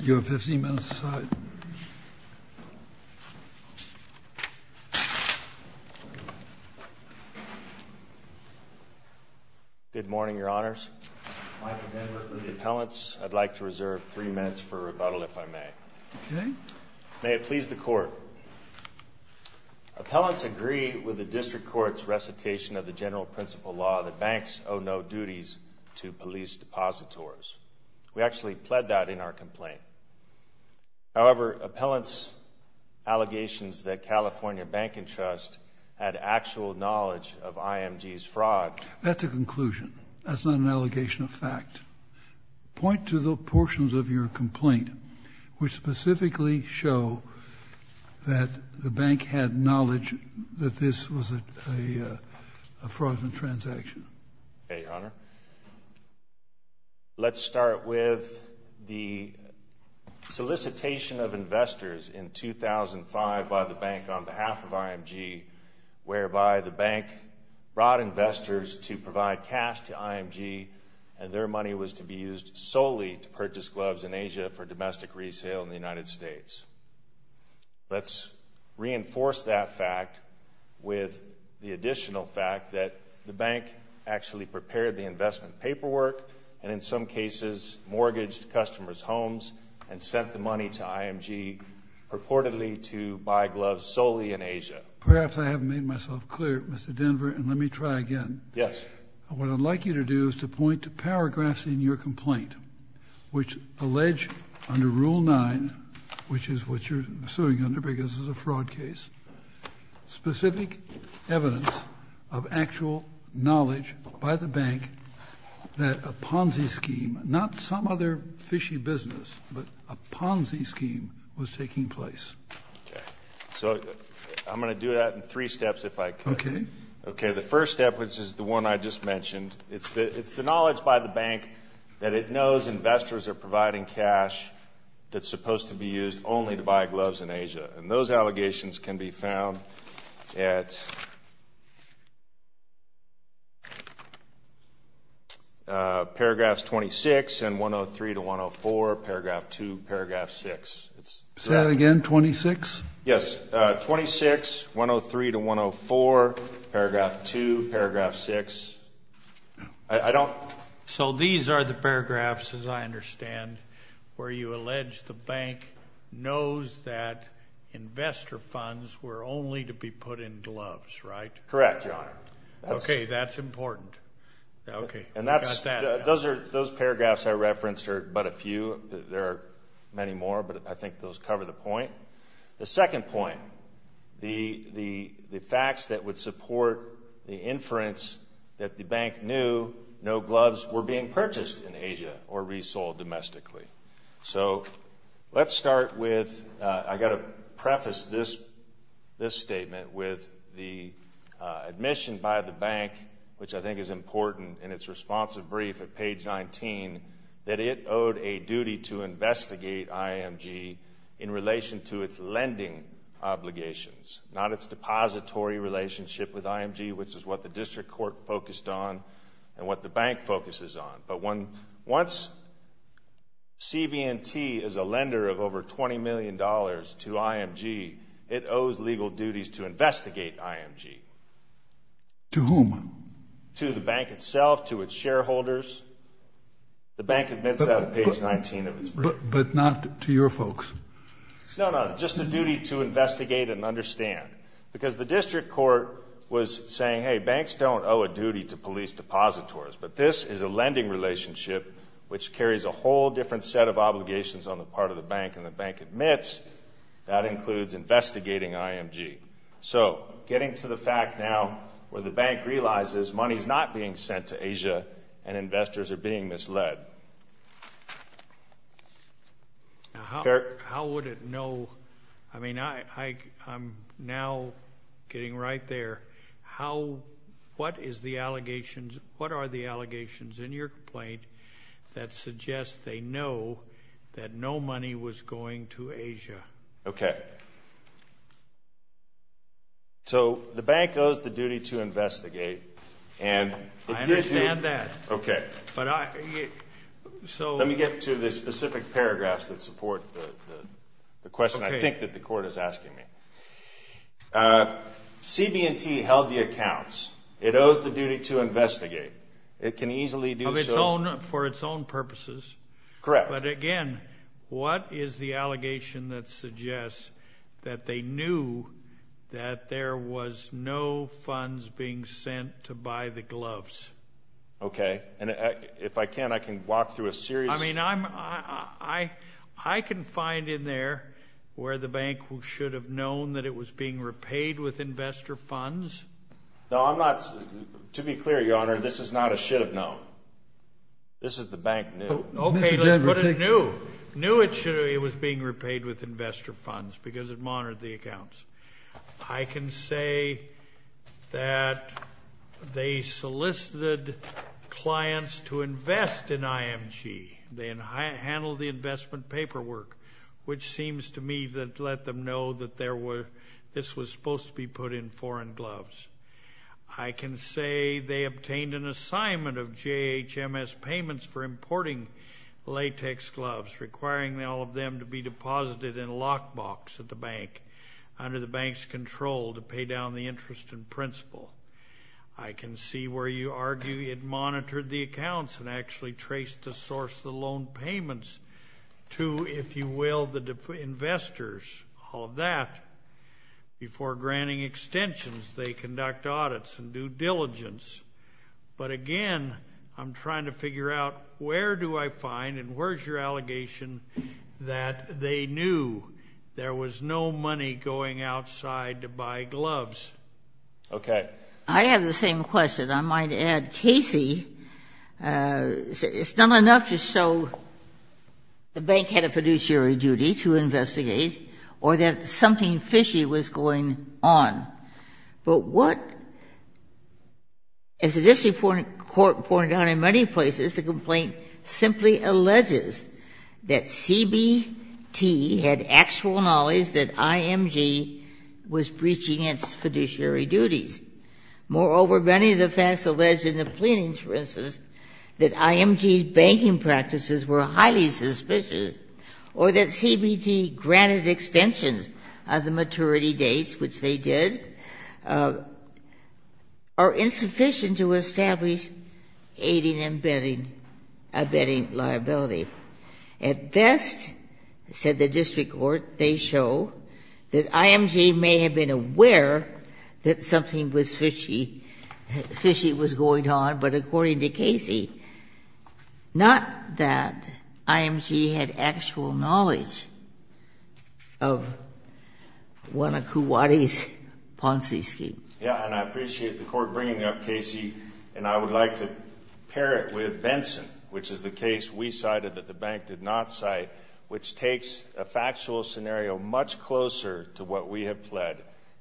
You have 15 minutes to decide. Good morning, Your Honors. Michael Denver for the appellants. I'd like to reserve three minutes for rebuttal, if I may. Okay. May it please the Court. Appellants agree with the District Court's recitation of the general principle law that banks owe no duties to police depositors. We actually pled that in our complaint. However, appellants' allegations that California Bank and Trust had actual knowledge of IMG's fraud— That's a conclusion. That's not an allegation of fact. Point to the portions of your complaint which specifically show that the bank had knowledge that this was a fraudulent transaction. Let's start with the solicitation of investors in 2005 by the bank on behalf of IMG, whereby the bank brought investors to provide cash to IMG, and their money was to be used solely to purchase gloves in Asia for domestic resale in the United States. Let's reinforce that fact with the additional fact that the bank actually prepared the investment paperwork and in some cases mortgaged customers' homes and sent the money to IMG purportedly to buy gloves solely in Asia. Perhaps I haven't made myself clear, Mr. Denver, and let me try again. Yes. What I'd like you to do is to point to paragraphs in your complaint which allege under Rule 9, which is what you're suing under because it's a fraud case, specific evidence of actual knowledge by the bank that a Ponzi scheme, not some other fishy business, but a Ponzi scheme was taking place. Okay. So I'm going to do that in three steps if I can. Okay. Okay, the first step, which is the one I just mentioned, it's the knowledge by the bank that it knows investors are providing cash that's supposed to be used only to buy gloves in Asia. And those allegations can be found at paragraphs 26 and 103 to 104, paragraph 2, paragraph 6. Say that again, 26? Yes, 26, 103 to 104, paragraph 2, paragraph 6. I don't. So these are the paragraphs, as I understand, where you allege the bank knows that investor funds were only to be put in gloves, right? Correct, Your Honor. Okay, that's important. Okay. Those paragraphs I referenced are but a few. There are many more, but I think those cover the point. The second point, the facts that would support the inference that the bank knew no gloves were being purchased in Asia or resold domestically. So let's start with, I've got to preface this statement with the admission by the bank, which I think is important in its responsive brief at page 19, that it owed a duty to investigate IMG in relation to its lending obligations, not its depository relationship with IMG, which is what the district court focused on and what the bank focuses on. But once CB&T is a lender of over $20 million to IMG, it owes legal duties to investigate IMG. To whom? To the bank itself, to its shareholders. The bank admits that on page 19 of its brief. But not to your folks? No, no, just a duty to investigate and understand. Because the district court was saying, hey, banks don't owe a duty to police depositors, but this is a lending relationship which carries a whole different set of obligations on the part of the bank, and the bank admits that includes investigating IMG. So getting to the fact now where the bank realizes money is not being sent to Asia and investors are being misled. How would it know? I mean, I'm now getting right there. What are the allegations in your complaint that suggest they know that no money was going to Asia? Okay. So the bank owes the duty to investigate. I understand that. Okay. Let me get to the specific paragraphs that support the question I think that the court is asking me. CB&T held the accounts. It owes the duty to investigate. It can easily do so. For its own purposes. Correct. But, again, what is the allegation that suggests that they knew that there was no funds being sent to buy the gloves? Okay. And if I can, I can walk through a series. I mean, I can find in there where the bank should have known that it was being repaid with investor funds. No, I'm not. To be clear, Your Honor, this is not a should have known. This is the bank knew. Okay. Let's put a knew. Knew it was being repaid with investor funds because it monitored the accounts. I can say that they solicited clients to invest in IMG. They handled the investment paperwork, which seems to me to let them know that this was supposed to be put in foreign gloves. I can say they obtained an assignment of JHMS payments for importing latex gloves, requiring all of them to be deposited in a lockbox at the bank, under the bank's control, to pay down the interest in principle. I can see where you argue it monitored the accounts and actually traced the source of the loan payments to, if you will, the investors. All of that. Before granting extensions, they conduct audits and due diligence. But, again, I'm trying to figure out where do I find and where's your allegation that they knew there was no money going outside to buy gloves? Okay. I have the same question. I might add, Casey, it's not enough to show the bank had a fiduciary duty to investigate or that something fishy was going on. But what, as the District Court pointed out in many places, the complaint simply alleges that CBT had actual knowledge that IMG was breaching its fiduciary duties. Moreover, many of the facts alleged in the pleadings, for instance, that IMG's banking practices were highly suspicious or that CBT granted extensions of the maturity dates, which they did, are insufficient to establish aiding and abetting liability. At best, said the District Court, they show that IMG may have been aware that something was fishy, fishy was going on. But according to Casey, not that IMG had actual knowledge of one of Kuwati's Ponzi schemes. Yeah, and I appreciate the Court bringing up Casey. And I would like to pair it with Benson, which is the case we cited that the bank did not cite, which takes a factual scenario much closer to what we have pled.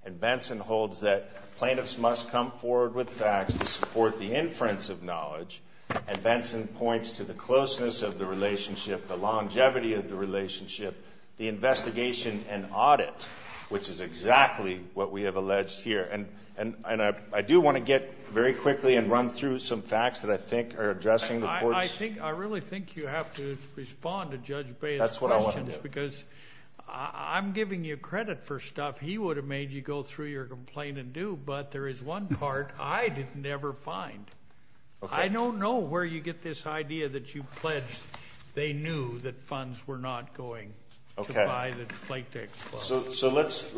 And Benson holds that plaintiffs must come forward with facts to support the inference of knowledge. And Benson points to the closeness of the relationship, the longevity of the relationship, the investigation and audit, which is exactly what we have alleged here. And I do want to get very quickly and run through some facts that I think are addressing the Court's. I think, I really think you have to respond to Judge Bayh's questions. That's what I want to do. Because I'm giving you credit for stuff he would have made you go through your complaint and do. But there is one part I did never find. I don't know where you get this idea that you pledged they knew that funds were not going to buy the plaintiffs' clothes. So let's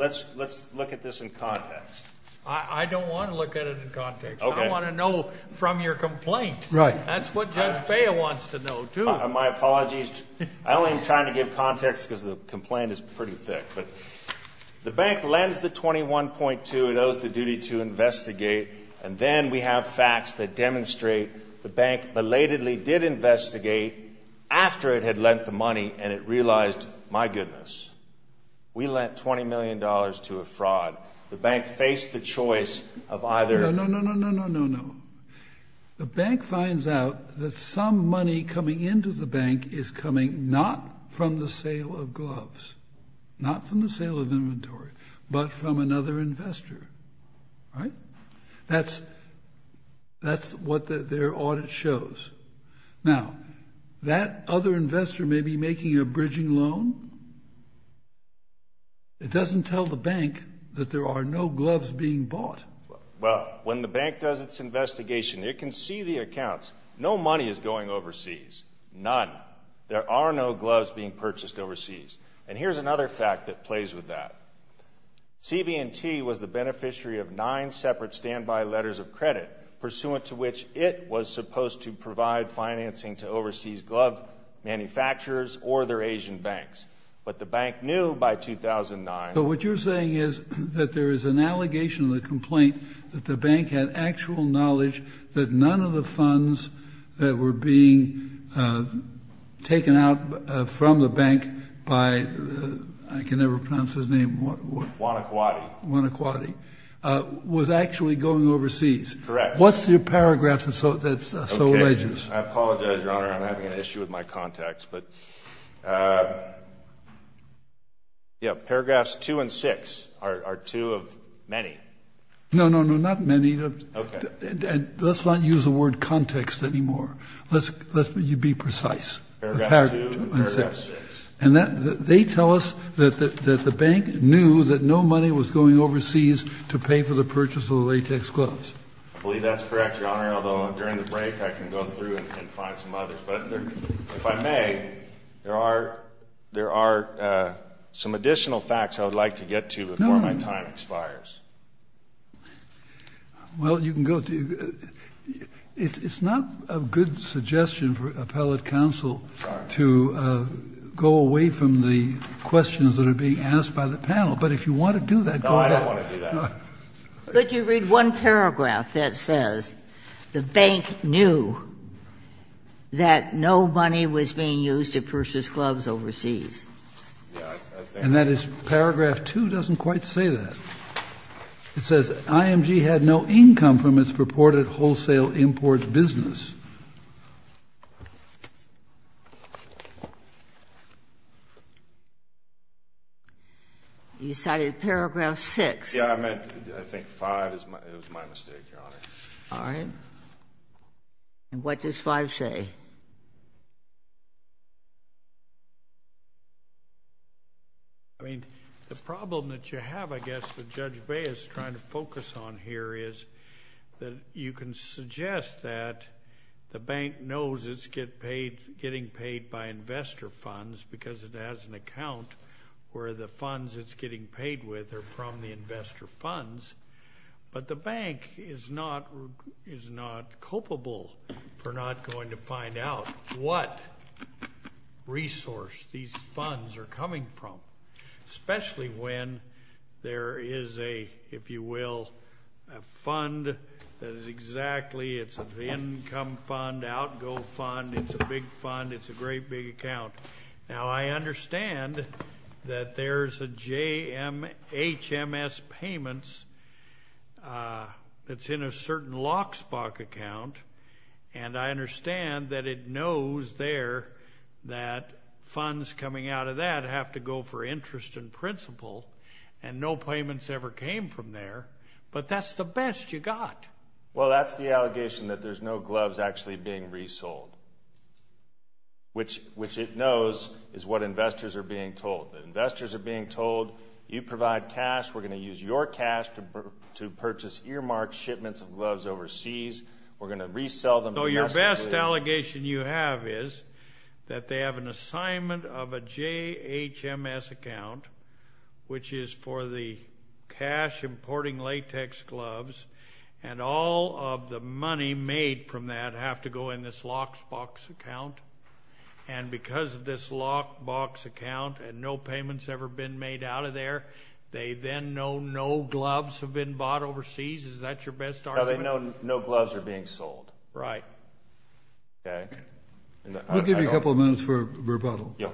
look at this in context. I don't want to look at it in context. I want to know from your complaint. Right. That's what Judge Bayh wants to know, too. My apologies. I only am trying to give context because the complaint is pretty thick. But the bank lends the 21.2. It owes the duty to investigate. And then we have facts that demonstrate the bank belatedly did investigate after it had lent the money and it realized, my goodness, we lent $20 million to a fraud. The bank faced the choice of either. No, no, no, no, no, no, no. The bank finds out that some money coming into the bank is coming not from the sale of gloves, not from the sale of inventory, but from another investor. Right? That's what their audit shows. Now, that other investor may be making a bridging loan. It doesn't tell the bank that there are no gloves being bought. Well, when the bank does its investigation, it can see the accounts. No money is going overseas. None. There are no gloves being purchased overseas. And here's another fact that plays with that. CB&T was the beneficiary of nine separate standby letters of credit, pursuant to which it was supposed to provide financing to overseas glove manufacturers or their Asian banks. But the bank knew by 2009. So what you're saying is that there is an allegation in the complaint that the bank had actual knowledge that none of the funds that were being taken out from the bank by I can never pronounce his name. What? One of what? One of quality was actually going overseas. Correct. What's the paragraph? So that's so religious. I apologize. Your Honor, I'm having an issue with my contacts. But, yeah, paragraphs two and six are two of many. No, no, no, not many. Let's not use the word context anymore. Let's be precise. Paragraph two and paragraph six. And they tell us that the bank knew that no money was going overseas to pay for the purchase of the latex gloves. I believe that's correct, Your Honor, although during the break I can go through and find some others. But if I may, there are some additional facts I would like to get to before my time expires. Well, you can go. It's not a good suggestion for appellate counsel to go away from the questions that are being asked by the panel. But if you want to do that, go ahead. No, I don't want to do that. But you read one paragraph that says the bank knew that no money was being used to purchase gloves overseas. And that is paragraph two doesn't quite say that. It says IMG had no income from its purported wholesale import business. You cited paragraph six. Yes, I meant, I think five is my mistake, Your Honor. All right. And what does five say? I mean, the problem that you have, I guess, that Judge Bay is trying to focus on here is that you can suggest that the bank knows it's getting paid by investor funds because it has an account where the funds it's getting paid with are from the investor funds. But the bank is not culpable for not going to find out what resource these funds are coming from, especially when there is a, if you will, a fund that is exactly, it's an income fund, outgo fund, it's a big fund, it's a great big account. Now, I understand that there's a HMS payments that's in a certain lockspok account. And I understand that it knows there that funds coming out of that have to go for interest in principle and no payments ever came from there. But that's the best you got. Well, that's the allegation that there's no gloves actually being resold, which it knows is what investors are being told. Investors are being told, you provide cash, we're going to use your cash to purchase earmarked shipments of gloves overseas, we're going to resell them. So your best allegation you have is that they have an assignment of a JHMS account, which is for the cash importing latex gloves and all of the money made from that have to go in this lockspok account. And because of this lockspok account and no payments ever been made out of there, they then know no gloves have been bought overseas. Is that your best argument? No, they know no gloves are being sold. Right. Okay. We'll give you a couple of minutes for rebuttal. Okay.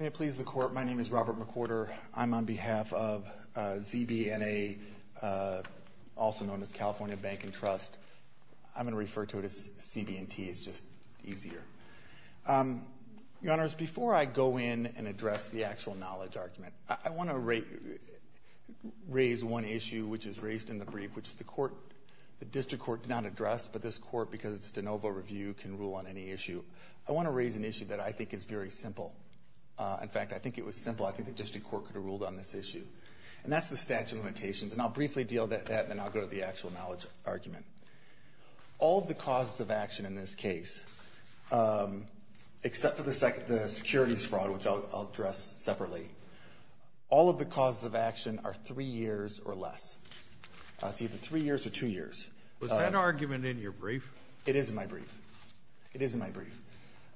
May it please the Court, my name is Robert McWhorter. I'm on behalf of ZB&A, also known as California Bank and Trust. I'm going to refer to it as CB&T, it's just easier. Your Honors, before I go in and address the actual knowledge argument, I want to raise one issue which is raised in the brief, which the District Court did not address, but this Court, because it's de novo review, can rule on any issue. I want to raise an issue that I think is very simple. In fact, I think it was simple. I think the District Court could have ruled on this issue. And that's the statute of limitations, and I'll briefly deal with that, and then I'll go to the actual knowledge argument. All of the causes of action in this case, except for the securities fraud, which I'll address separately, all of the causes of action are three years or less. It's either three years or two years. Was that argument in your brief? It is in my brief. It is in my brief.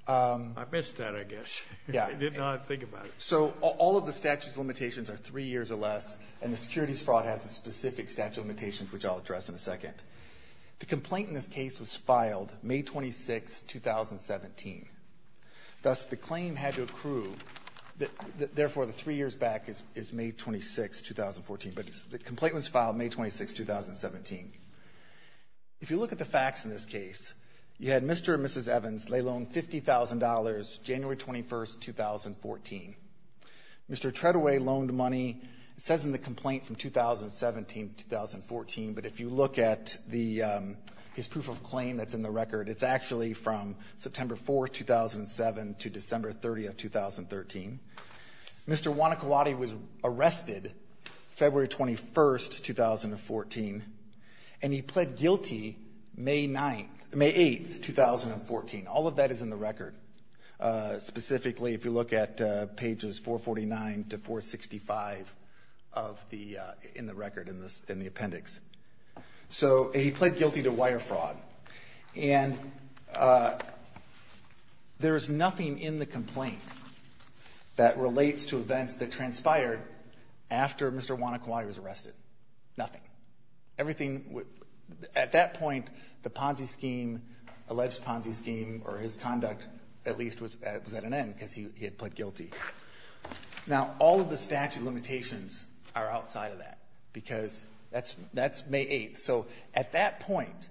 I missed that, I guess. Yeah. I did not think about it. So all of the statute of limitations are three years or less, and the securities fraud has a specific statute of limitations, which I'll address in a second. The complaint in this case was filed May 26, 2017. Thus, the claim had to accrue. Therefore, the three years back is May 26, 2014. But the complaint was filed May 26, 2017. If you look at the facts in this case, you had Mr. and Mrs. Evans. They loaned $50,000 January 21, 2014. Mr. Treadway loaned money. It says in the complaint from 2017 to 2014, but if you look at his proof of claim that's in the record, it's actually from September 4, 2007 to December 30, 2013. Mr. Wanakwadi was arrested February 21, 2014, and he pled guilty May 8, 2014. All of that is in the record. Specifically, if you look at pages 449 to 465 in the record, in the appendix. So he pled guilty to wire fraud. And there is nothing in the complaint that relates to events that transpired after Mr. Wanakwadi was arrested. Nothing. Everything at that point, the Ponzi scheme, alleged Ponzi scheme, or his conduct at least was at an end because he had pled guilty. Now, all of the statute limitations are outside of that because that's May 8. So at that point,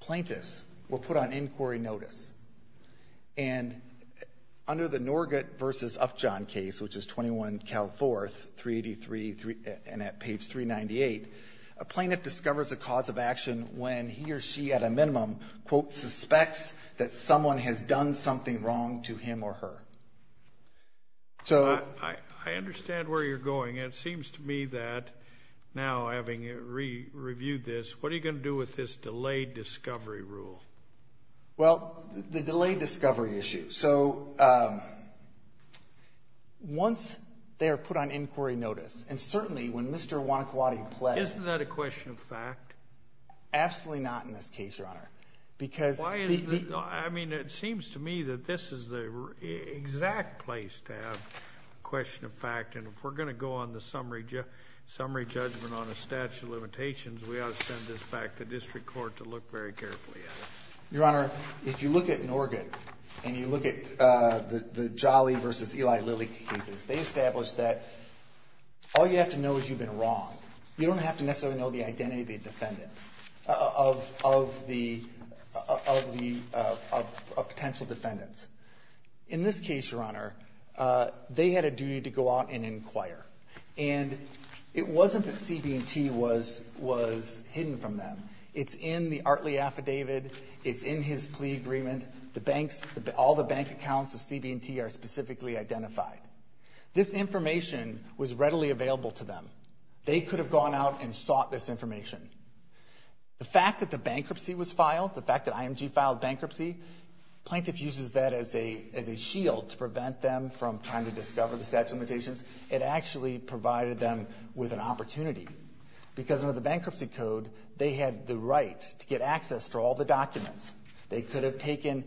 plaintiffs were put on inquiry notice. And under the Norgat v. Upjohn case, which is 21 Cal 4, 383 and at page 398, a plaintiff discovers a cause of action when he or she at a minimum, quote, suspects that someone has done something wrong to him or her. I understand where you're going. It seems to me that now having reviewed this, what are you going to do with this delayed discovery rule? Well, the delayed discovery issue. So once they are put on inquiry notice, and certainly when Mr. Wanakwadi pled... Isn't that a question of fact? Absolutely not in this case, Your Honor, because... Why isn't it? I mean, it seems to me that this is the exact place to have a question of fact. And if we're going to go on the summary judgment on a statute of limitations, we ought to send this back to district court to look very carefully at it. Your Honor, if you look at Norgat and you look at the Jolly v. Eli Lilly cases, they establish that all you have to know is you've been wronged. You don't have to necessarily know the identity of the defendant, of the potential defendants. In this case, Your Honor, they had a duty to go out and inquire. And it wasn't that CB&T was hidden from them. It's in the Artley Affidavit. It's in his plea agreement. All the bank accounts of CB&T are specifically identified. This information was readily available to them. They could have gone out and sought this information. The fact that the bankruptcy was filed, the fact that IMG filed bankruptcy, plaintiff uses that as a shield to prevent them from trying to discover the statute of limitations. It actually provided them with an opportunity. Because under the Bankruptcy Code, they had the right to get access to all the documents. They could have taken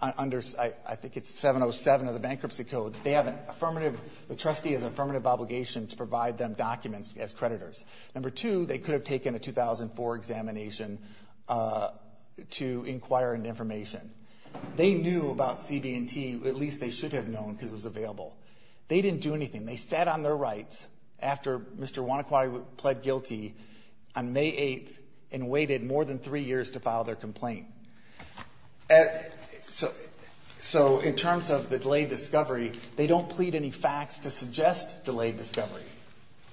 under, I think it's 707 of the Bankruptcy Code, they have an affirmative, the trustee has an affirmative obligation to provide them documents as creditors. Number two, they could have taken a 2004 examination to inquire into information. They knew about CB&T. At least they should have known because it was available. They didn't do anything. They sat on their rights after Mr. Wanakwadi pled guilty on May 8th and waited more than three years to file their complaint. So in terms of the delayed discovery, they don't plead any facts to suggest delayed discovery.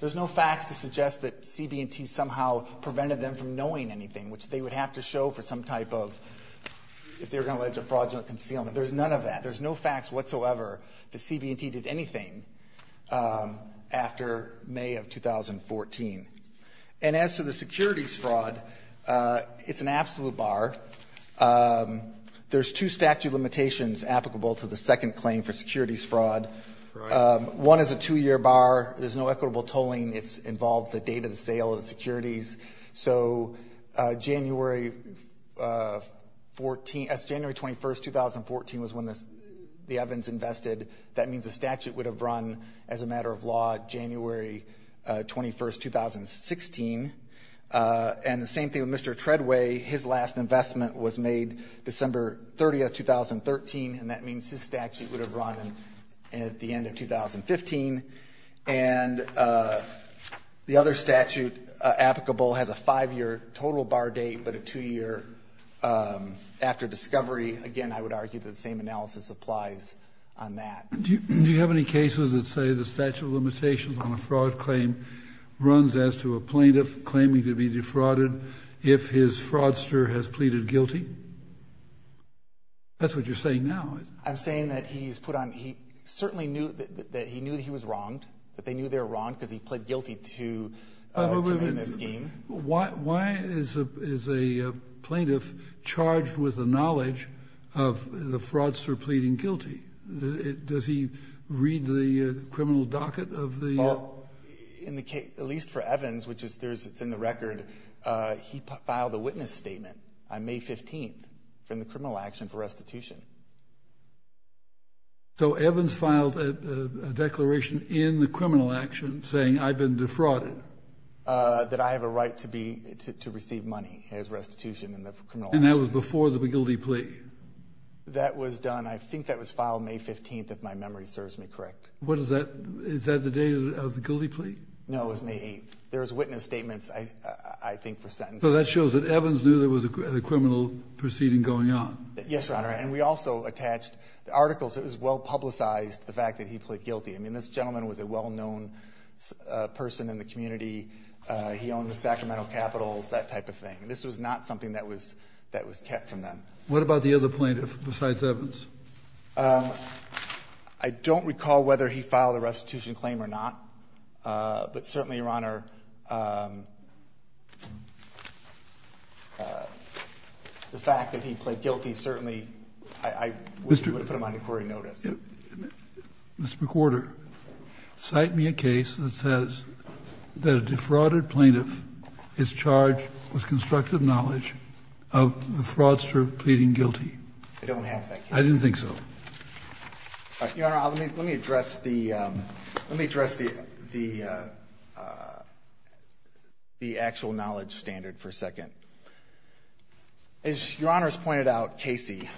There's no facts to suggest that CB&T somehow prevented them from knowing anything, which they would have to show for some type of, if they were going to allege a fraudulent concealment. There's none of that. There's no facts whatsoever that CB&T did anything after May of 2014. And as to the securities fraud, it's an absolute bar. There's two statute limitations applicable to the second claim for securities fraud. One is a two-year bar. There's no equitable tolling. It's involved the date of the sale of the securities. So January 21st, 2014 was when the Evans invested. That means the statute would have run as a matter of law January 21st, 2016. And the same thing with Mr. Treadway. His last investment was made December 30th, 2013, and that means his statute would have run at the end of 2015. And the other statute applicable has a five-year total bar date, but a two-year after discovery. Again, I would argue that the same analysis applies on that. Do you have any cases that say the statute of limitations on a fraud claim runs as to a plaintiff claiming to be defrauded if his fraudster has pleaded guilty? That's what you're saying now, isn't it? I'm saying that he's put on – he certainly knew that he was wronged, that they knew they were wronged because he pled guilty to the scheme. Why is a plaintiff charged with the knowledge of the fraudster pleading guilty? Does he read the criminal docket of the – Well, in the case – at least for Evans, which is – it's in the record. He filed a witness statement on May 15th in the criminal action for restitution. So Evans filed a declaration in the criminal action saying, I've been defrauded? That I have a right to be – to receive money as restitution in the criminal action. And that was before the guilty plea? That was done – I think that was filed May 15th, if my memory serves me correct. What is that – is that the day of the guilty plea? No, it was May 8th. There was witness statements, I think, for sentencing. So that shows that Evans knew there was a criminal proceeding going on? Yes, Your Honor. And we also attached the articles. It was well-publicized, the fact that he pled guilty. I mean, this gentleman was a well-known person in the community. He owned the Sacramento Capitals, that type of thing. This was not something that was kept from them. What about the other plaintiff besides Evans? I don't recall whether he filed a restitution claim or not. But certainly, Your Honor, the fact that he pled guilty certainly – I wish we would have put him on inquiry notice. Mr. McWhorter, cite me a case that says that a defrauded plaintiff is charged with constructive knowledge of the fraudster pleading guilty. I don't have that case. I didn't think so. Your Honor, let me address the actual knowledge standard for a second. As Your Honor has pointed out, Casey,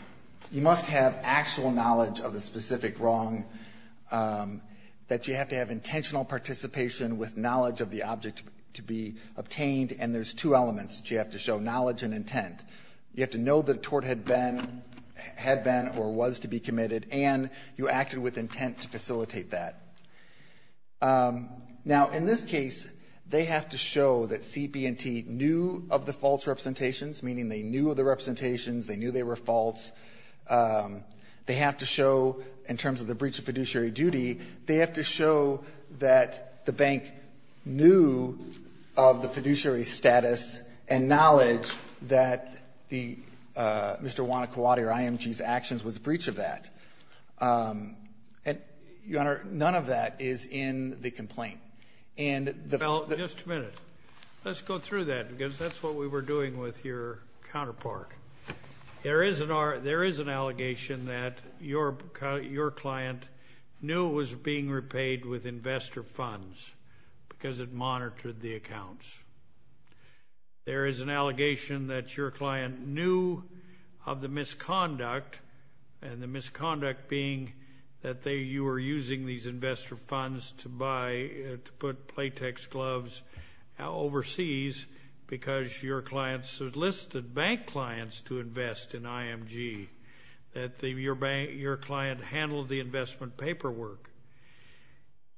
you must have actual knowledge of a specific wrong, that you have to have intentional participation with knowledge of the object to be obtained, and there's two elements that you have to show, knowledge and intent. You have to know that a tort had been or was to be committed, and you acted with intent to facilitate that. Now, in this case, they have to show that CB&T knew of the false representations, meaning they knew of the representations, they knew they were false. They have to show, in terms of the breach of fiduciary duty, they have to show that the bank knew of the fiduciary status and knowledge that Mr. Wana-Kiwate or IMG's actions was a breach of that. Your Honor, none of that is in the complaint. Well, just a minute. Let's go through that, because that's what we were doing with your counterpart. There is an allegation that your client knew was being repaid with investor funds, because it monitored the accounts. There is an allegation that your client knew of the misconduct, and the misconduct being that you were using these investor funds to put Playtex gloves overseas because your client enlisted bank clients to invest in IMG, that your client handled the investment paperwork.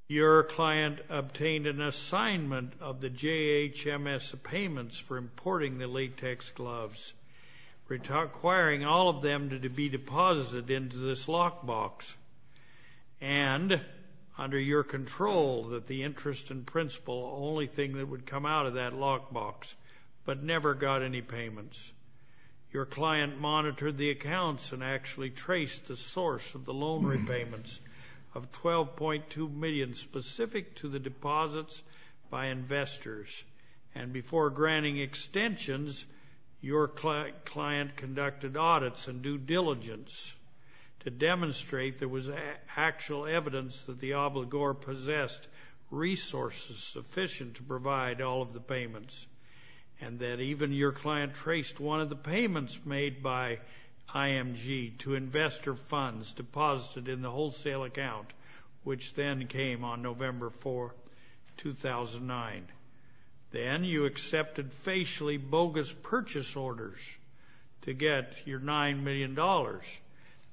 Your client obtained an assignment of the JHMS payments for importing the Playtex gloves, requiring all of them to be deposited into this lockbox, and under your control, that the interest and principal, the only thing that would come out of that lockbox, but never got any payments. Your client monitored the accounts and actually traced the source of the loan repayments of $12.2 million specific to the deposits by investors, and before granting extensions, your client conducted audits and due diligence to demonstrate there was actual evidence that the obligor possessed resources sufficient to provide all of the payments, and that even your client traced one of the payments made by IMG to investor funds deposited in the wholesale account, which then came on November 4, 2009. Then you accepted facially bogus purchase orders to get your $9 million.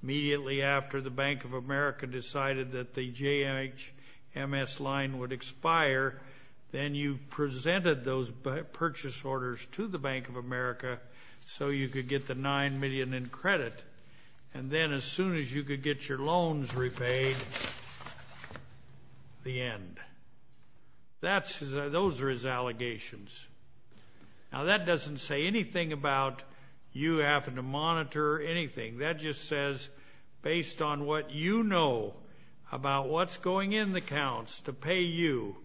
Immediately after the Bank of America decided that the JHMS line would expire, then you presented those purchase orders to the Bank of America so you could get the $9 million in credit, and then as soon as you could get your loans repaid, the end. Those are his allegations. Now, that doesn't say anything about you having to monitor anything. That just says, based on what you know about what's going in the accounts to pay you,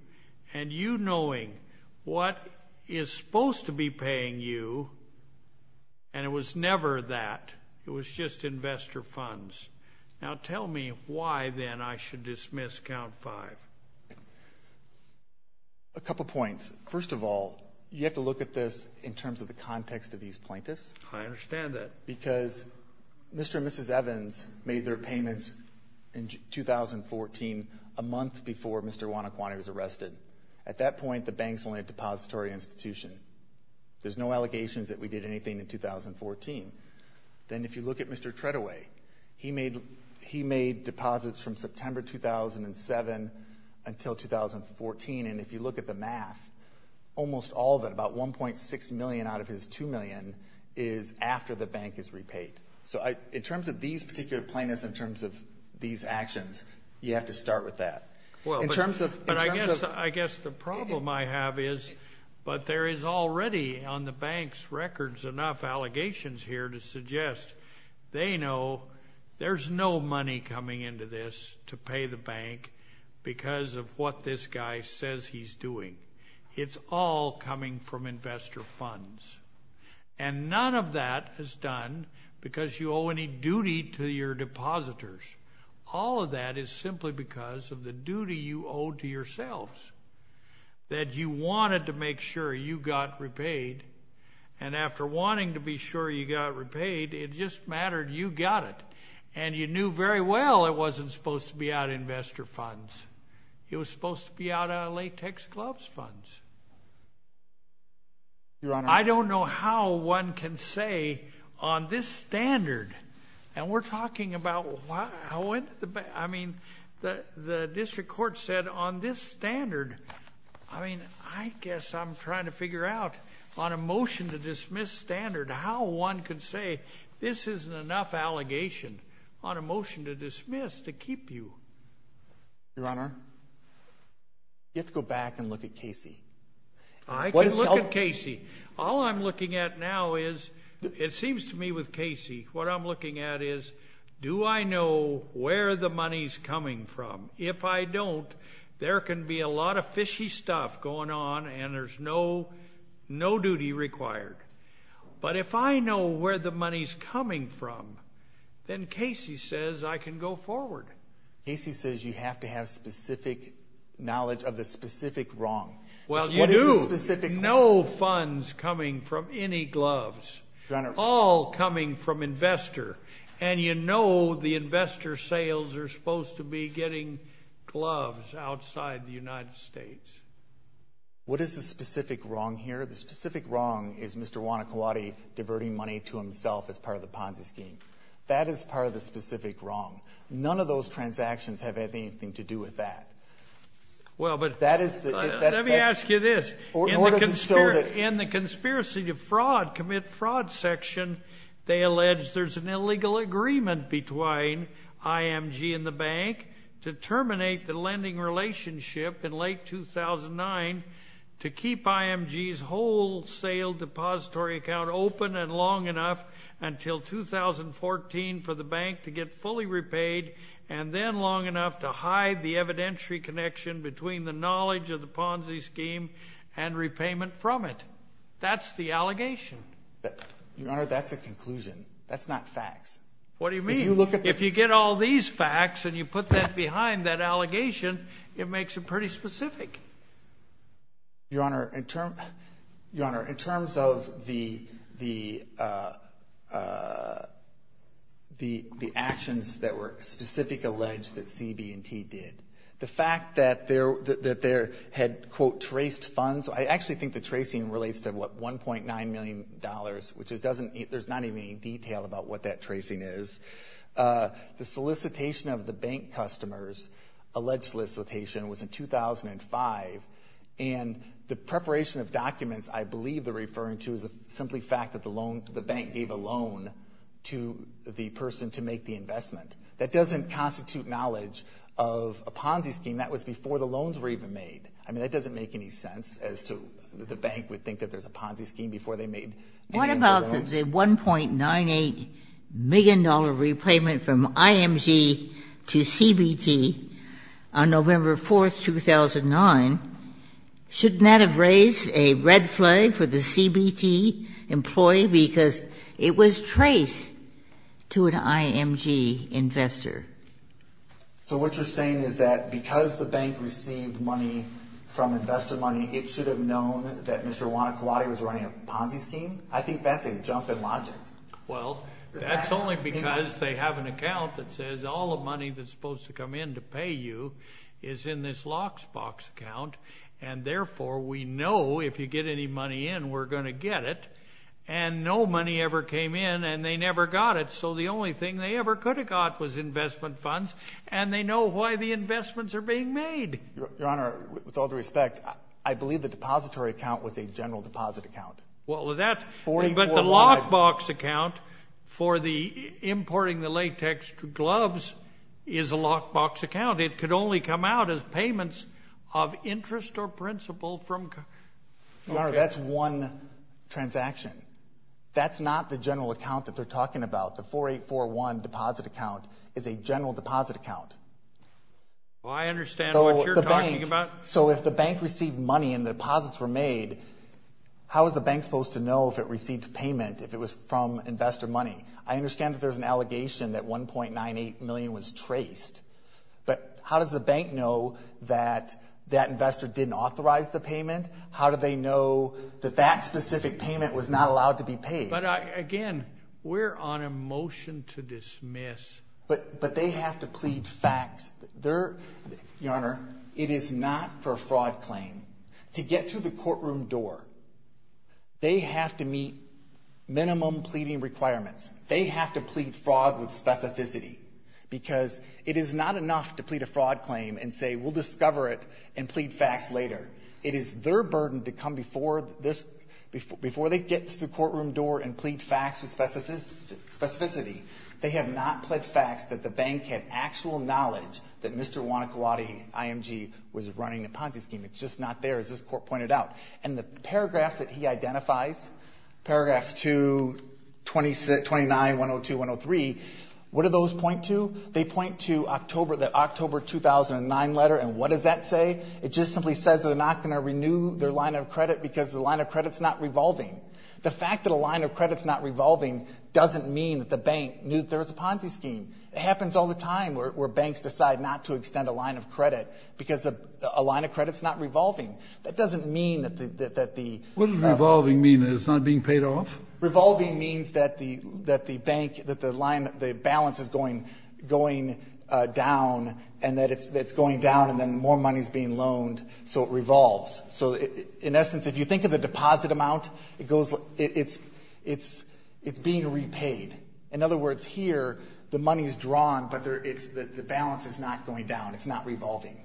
and you knowing what is supposed to be paying you, and it was never that. It was just investor funds. Now, tell me why, then, I should dismiss Count 5. A couple points. First of all, you have to look at this in terms of the context of these plaintiffs. I understand that. Because Mr. and Mrs. Evans made their payments in 2014, a month before Mr. Wanakwani was arrested. At that point, the bank's only a depository institution. There's no allegations that we did anything in 2014. Then if you look at Mr. Treadway, he made deposits from September 2007 until 2014, and if you look at the math, almost all of it, about 1.6 million out of his 2 million, is after the bank is repaid. So in terms of these particular plaintiffs, in terms of these actions, you have to start with that. In terms of— Well, but I guess the problem I have is, but there is already on the bank's records enough allegations here to suggest they know there's no money coming into this to pay the bank because of what this guy says he's doing. It's all coming from investor funds. And none of that is done because you owe any duty to your depositors. All of that is simply because of the duty you owe to yourselves, that you wanted to make sure you got repaid, and after wanting to be sure you got repaid, it just mattered you got it. And you knew very well it wasn't supposed to be out of investor funds. It was supposed to be out of latex gloves funds. Your Honor— I don't know how one can say on this standard, and we're talking about—I mean, the district court said on this standard, I mean, I guess I'm trying to figure out on a motion to dismiss standard how one could say this isn't enough allegation on a motion to dismiss to keep you. Your Honor, you have to go back and look at Casey. I can look at Casey. All I'm looking at now is, it seems to me with Casey, what I'm looking at is, do I know where the money's coming from? If I don't, there can be a lot of fishy stuff going on, and there's no duty required. But if I know where the money's coming from, then Casey says I can go forward. Casey says you have to have specific knowledge of the specific wrong. Well, you do. What is the specific— No funds coming from any gloves. Your Honor— All coming from investor. And you know the investor sales are supposed to be getting gloves outside the United States. What is the specific wrong here? The specific wrong is Mr. Wanakwadi diverting money to himself as part of the Ponzi scheme. That is part of the specific wrong. None of those transactions have anything to do with that. Well, but— Let me ask you this. In the conspiracy to fraud, commit fraud section, they allege there's an illegal agreement between IMG and the bank to terminate the lending relationship in late 2009 to keep IMG's wholesale depository account open and long enough until 2014 for the bank to get fully repaid and then long enough to hide the evidentiary connection between the knowledge of the Ponzi scheme and repayment from it. That's the allegation. Your Honor, that's a conclusion. That's not facts. What do you mean? If you look at the— If you get all these facts and you put that behind that allegation, it makes it pretty specific. Your Honor, in terms of the actions that were specifically alleged that CB&T did, the fact that they had, quote, traced funds— I actually think the tracing relates to, what, $1.9 million, which there's not even any detail about what that tracing is. The solicitation of the bank customers, alleged solicitation, was in 2005, and the preparation of documents I believe they're referring to is simply the fact that the bank gave a loan to the person to make the investment. That doesn't constitute knowledge of a Ponzi scheme. That was before the loans were even made. I mean, that doesn't make any sense as to the bank would think What about the $1.98 million repayment from IMG to CB&T on November 4, 2009? Shouldn't that have raised a red flag for the CB&T employee because it was traced to an IMG investor? So what you're saying is that because the bank received money from investor money, it should have known that Mr. Iwanakuwate was running a Ponzi scheme? I think that's a jump in logic. Well, that's only because they have an account that says all the money that's supposed to come in to pay you is in this lockbox account, and therefore we know if you get any money in, we're going to get it. And no money ever came in, and they never got it, so the only thing they ever could have got was investment funds, and they know why the investments are being made. Your Honor, with all due respect, I believe the depository account was a general deposit account. But the lockbox account for importing the latex gloves is a lockbox account. It could only come out as payments of interest or principal from Your Honor, that's one transaction. That's not the general account that they're talking about. The 4841 deposit account is a general deposit account. Well, I understand what you're talking about. So if the bank received money and the deposits were made, how is the bank supposed to know if it received payment, if it was from investor money? I understand that there's an allegation that $1.98 million was traced, but how does the bank know that that investor didn't authorize the payment? How do they know that that specific payment was not allowed to be paid? But, again, we're on a motion to dismiss. But they have to plead facts. Your Honor, it is not for a fraud claim. To get to the courtroom door, they have to meet minimum pleading requirements. They have to plead fraud with specificity, because it is not enough to plead a fraud claim and say, we'll discover it and plead facts later. It is their burden to come before they get to the courtroom door and plead facts with specificity. They have not pled facts that the bank had actual knowledge that Mr. Wanakwadi IMG was running a Ponzi scheme. It's just not there, as this Court pointed out. And the paragraphs that he identifies, paragraphs 229, 102, 103, what do those point to? They point to the October 2009 letter, and what does that say? It just simply says they're not going to renew their line of credit because the line of credit's not revolving. The fact that a line of credit's not revolving doesn't mean that the bank knew there was a Ponzi scheme. It happens all the time where banks decide not to extend a line of credit because a line of credit's not revolving. That doesn't mean that the ---- What does revolving mean? That it's not being paid off? Revolving means that the bank, that the balance is going down and that it's going down and then more money's being loaned, so it revolves. So in essence, if you think of the deposit amount, it's being repaid. In other words, here the money's drawn, but the balance is not going down. It's not revolving.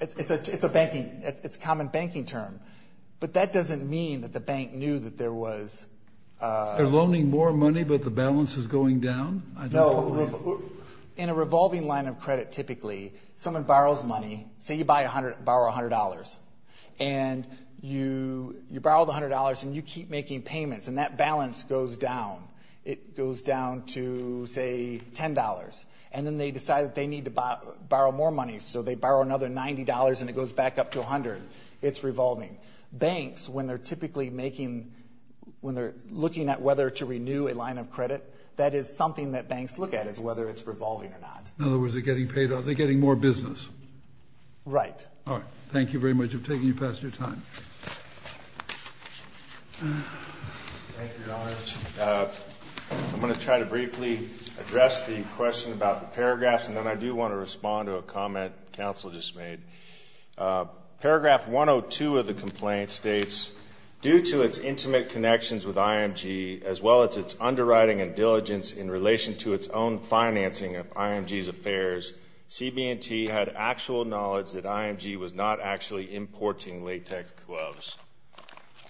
It's a common banking term, but that doesn't mean that the bank knew that there was a ---- They're loaning more money, but the balance is going down? No. In a revolving line of credit, typically, someone borrows money. Say you borrow $100. And you borrow the $100 and you keep making payments, and that balance goes down. It goes down to, say, $10. And then they decide that they need to borrow more money, so they borrow another $90 and it goes back up to $100. It's revolving. Banks, when they're typically making, when they're looking at whether to renew a line of credit, that is something that banks look at is whether it's revolving or not. In other words, they're getting more business. Right. All right. Thank you very much. I'm taking you past your time. Thank you, Your Honor. I'm going to try to briefly address the question about the paragraphs, and then I do want to respond to a comment counsel just made. Paragraph 102 of the complaint states, due to its intimate connections with IMG, as well as its underwriting and diligence in relation to its own financing of IMG's affairs, CB&T had actual knowledge that IMG was not actually importing latex gloves.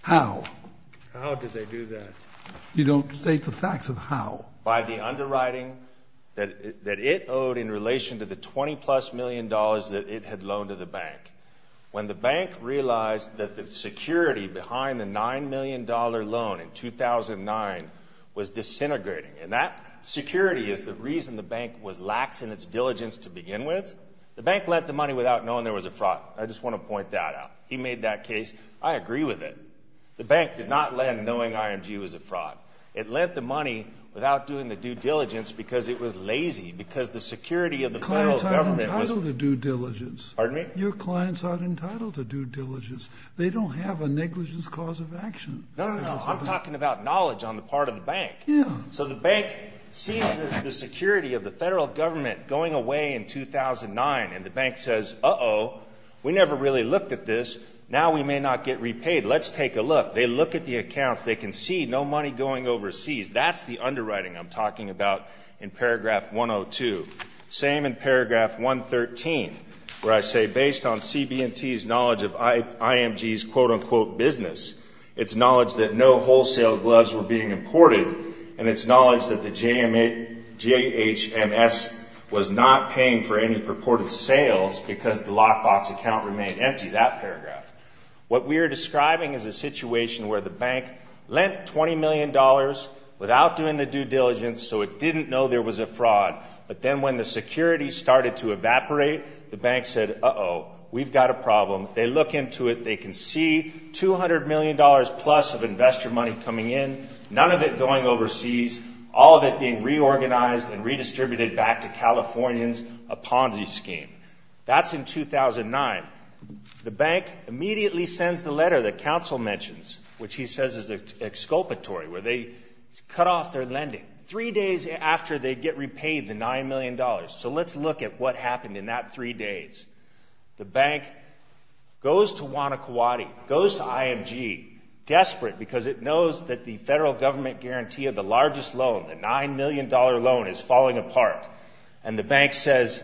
How? How did they do that? You don't state the facts of how. By the underwriting that it owed in relation to the $20-plus million that it had loaned to the bank. When the bank realized that the security behind the $9 million loan in 2009 was disintegrating, and that security is the reason the bank was lax in its diligence to begin with, the bank lent the money without knowing there was a fraud. I just want to point that out. He made that case. I agree with it. The bank did not lend knowing IMG was a fraud. It lent the money without doing the due diligence because it was lazy, because the security of the federal government was— Clients aren't entitled to due diligence. Pardon me? Your clients aren't entitled to due diligence. They don't have a negligence cause of action. No, no, no. I'm talking about knowledge on the part of the bank. So the bank sees the security of the federal government going away in 2009, and the bank says, uh-oh, we never really looked at this. Now we may not get repaid. Let's take a look. They look at the accounts. They can see no money going overseas. That's the underwriting I'm talking about in paragraph 102. Same in paragraph 113, where I say, based on CB&T's knowledge of IMG's quote-unquote business, it's knowledge that no wholesale gloves were being imported, and it's knowledge that the JHMS was not paying for any purported sales because the lockbox account remained empty, that paragraph. What we are describing is a situation where the bank lent $20 million without doing the due diligence so it didn't know there was a fraud, but then when the security started to evaporate, the bank said, uh-oh, we've got a problem. They look into it. They can see $200 million-plus of investor money coming in, none of it going overseas, all of it being reorganized and redistributed back to Californians, a Ponzi scheme. That's in 2009. The bank immediately sends the letter that counsel mentions, which he says is exculpatory, where they cut off their lending, three days after they get repaid the $9 million. So let's look at what happened in that three days. The bank goes to Wanakwadi, goes to IMG, desperate because it knows that the federal government guarantee of the largest loan, the $9 million loan, is falling apart. And the bank says,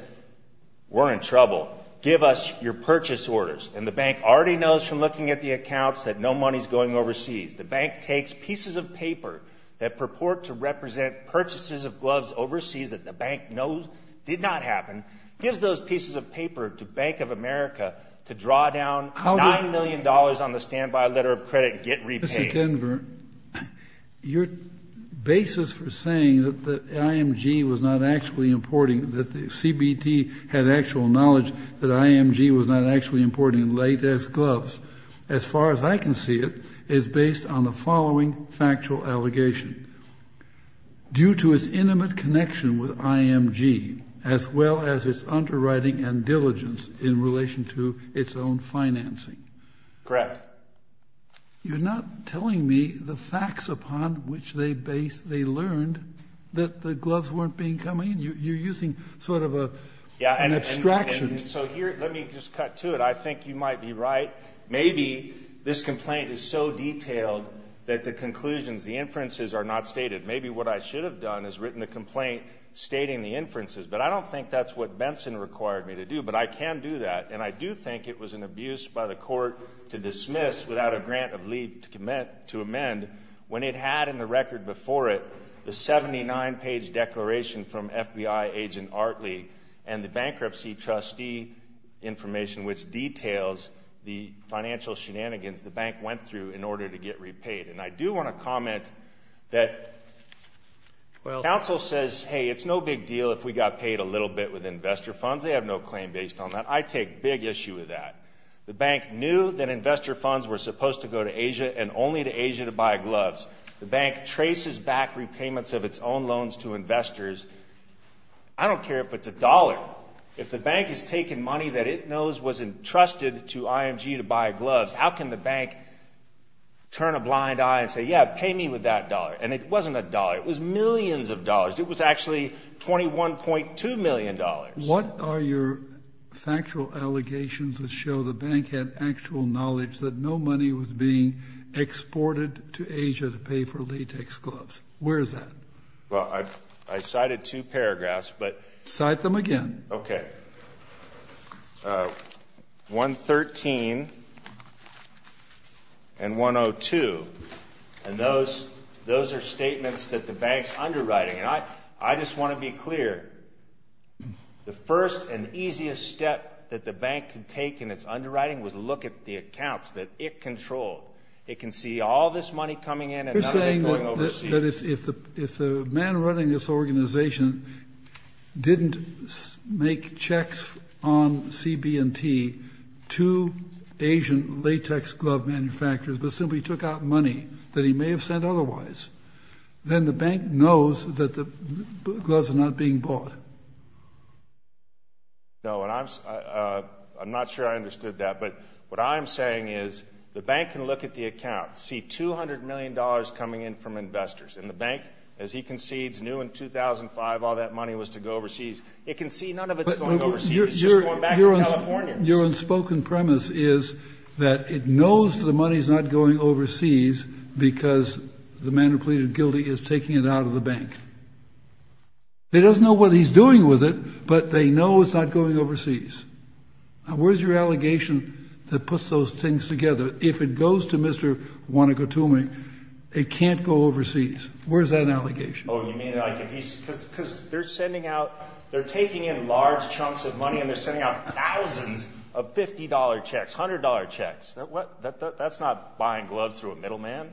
we're in trouble. Give us your purchase orders. And the bank already knows from looking at the accounts that no money is going overseas. The bank takes pieces of paper that purport to represent purchases of gloves overseas that the bank knows did not happen, gives those pieces of paper to Bank of America to draw down $9 million on the standby letter of credit and get repaid. Mr. Denver, your basis for saying that the IMG was not actually importing, that CBT had actual knowledge that IMG was not actually importing latex gloves, as far as I can see it, is based on the following factual allegation. Due to its intimate connection with IMG, as well as its underwriting and diligence in relation to its own financing. Correct. You're not telling me the facts upon which they learned that the gloves weren't being come in. You're using sort of an abstraction. Let me just cut to it. I think you might be right. Maybe this complaint is so detailed that the conclusions, the inferences are not stated. Maybe what I should have done is written a complaint stating the inferences, but I don't think that's what Benson required me to do, but I can do that. And I do think it was an abuse by the court to dismiss without a grant of leave to amend when it had in the record before it the 79-page declaration from FBI agent Artley and the bankruptcy trustee information, which details the financial shenanigans the bank went through in order to get repaid. And I do want to comment that counsel says, hey, it's no big deal if we got paid a little bit with investor funds. They have no claim based on that. I take big issue with that. The bank knew that investor funds were supposed to go to Asia and only to Asia to buy gloves. The bank traces back repayments of its own loans to investors. I don't care if it's a dollar. If the bank has taken money that it knows was entrusted to IMG to buy gloves, how can the bank turn a blind eye and say, yeah, pay me with that dollar? And it wasn't a dollar. It was millions of dollars. It was actually $21.2 million. What are your factual allegations that show the bank had actual knowledge that no money was being exported to Asia to pay for latex gloves? Where is that? Well, I cited two paragraphs. Cite them again. Okay. 113 and 102. And those are statements that the bank's underwriting. And I just want to be clear. The first and easiest step that the bank could take in its underwriting was look at the accounts that it controlled. It can see all this money coming in and none of it going overseas. But if the man running this organization didn't make checks on CB&T to Asian latex glove manufacturers but simply took out money that he may have sent otherwise, then the bank knows that the gloves are not being bought. No, and I'm not sure I understood that. But what I'm saying is the bank can look at the accounts, see $200 million coming in from investors. And the bank, as he concedes, knew in 2005 all that money was to go overseas. It can see none of it's going overseas. It's just going back to California. Your unspoken premise is that it knows the money's not going overseas because the man who pleaded guilty is taking it out of the bank. It doesn't know what he's doing with it, but they know it's not going overseas. Where's your allegation that puts those things together? If it goes to Mr. Wanigatumi, it can't go overseas. Where's that allegation? Oh, you mean like if he's – because they're sending out – they're taking in large chunks of money and they're sending out thousands of $50 checks, $100 checks. That's not buying gloves through a middleman.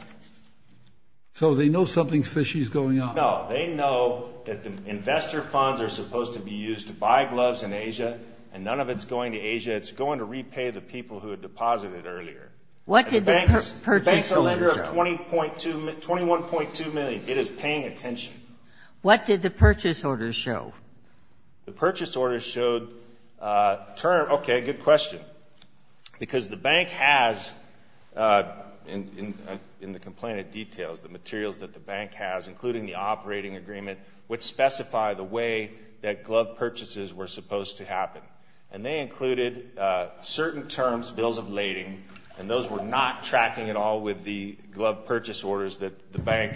So they know something fishy is going on. No, they know that the investor funds are supposed to be used to buy gloves in Asia and none of it's going to Asia. It's going to repay the people who had deposited earlier. What did the purchase order show? The bank's a lender of $21.2 million. It is paying attention. What did the purchase order show? The purchase order showed – okay, good question. Because the bank has, in the complainant details, the materials that the bank has, including the operating agreement, which specify the way that glove purchases were supposed to happen. And they included certain terms, bills of lading, and those were not tracking at all with the glove purchase orders that the bank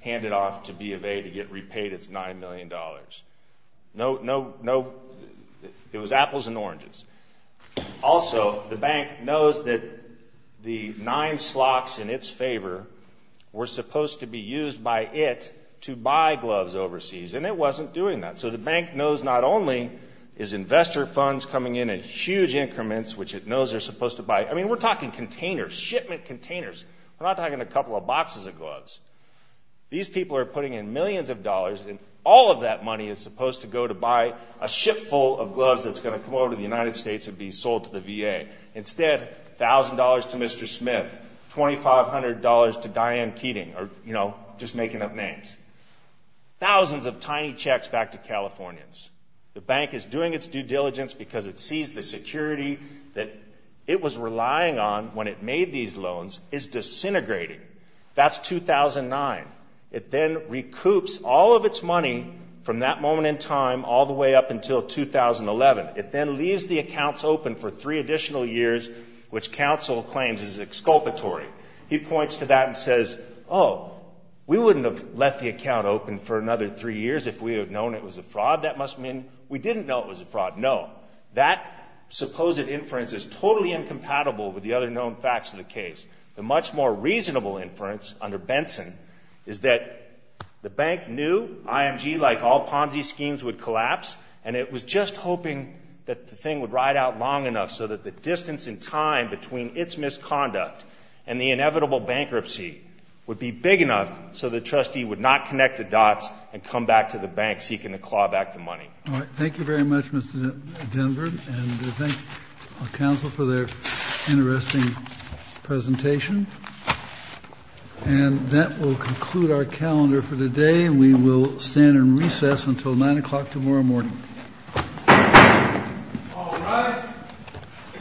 handed off to B of A to get repaid its $9 million. No – it was apples and oranges. Also, the bank knows that the nine slots in its favor were supposed to be used by it to buy gloves overseas, and it wasn't doing that. So the bank knows not only is investor funds coming in at huge increments, which it knows they're supposed to buy. I mean, we're talking containers, shipment containers. We're not talking a couple of boxes of gloves. These people are putting in millions of dollars, and all of that money is supposed to go to buy a ship full of gloves that's going to come over to the United States and be sold to the VA. Instead, $1,000 to Mr. Smith, $2,500 to Diane Keating, or, you know, just making up names. Thousands of tiny checks back to Californians. The bank is doing its due diligence because it sees the security that it was relying on when it made these loans is disintegrating. That's 2009. It then recoups all of its money from that moment in time all the way up until 2011. It then leaves the accounts open for three additional years, which counsel claims is exculpatory. He points to that and says, oh, we wouldn't have left the account open for another three years if we had known it was a fraud. That must mean we didn't know it was a fraud. No, that supposed inference is totally incompatible with the other known facts of the case. The much more reasonable inference under Benson is that the bank knew IMG, like all Ponzi schemes, would collapse, and it was just hoping that the thing would ride out long enough so that the distance in time between its misconduct and the inevitable bankruptcy would be big enough so the trustee would not connect the dots and come back to the bank seeking to claw back the money. All right. Thank you very much, Mr. Denver. And we thank counsel for their interesting presentation. And that will conclude our calendar for today, and we will stand in recess until 9 o'clock tomorrow morning. All rise.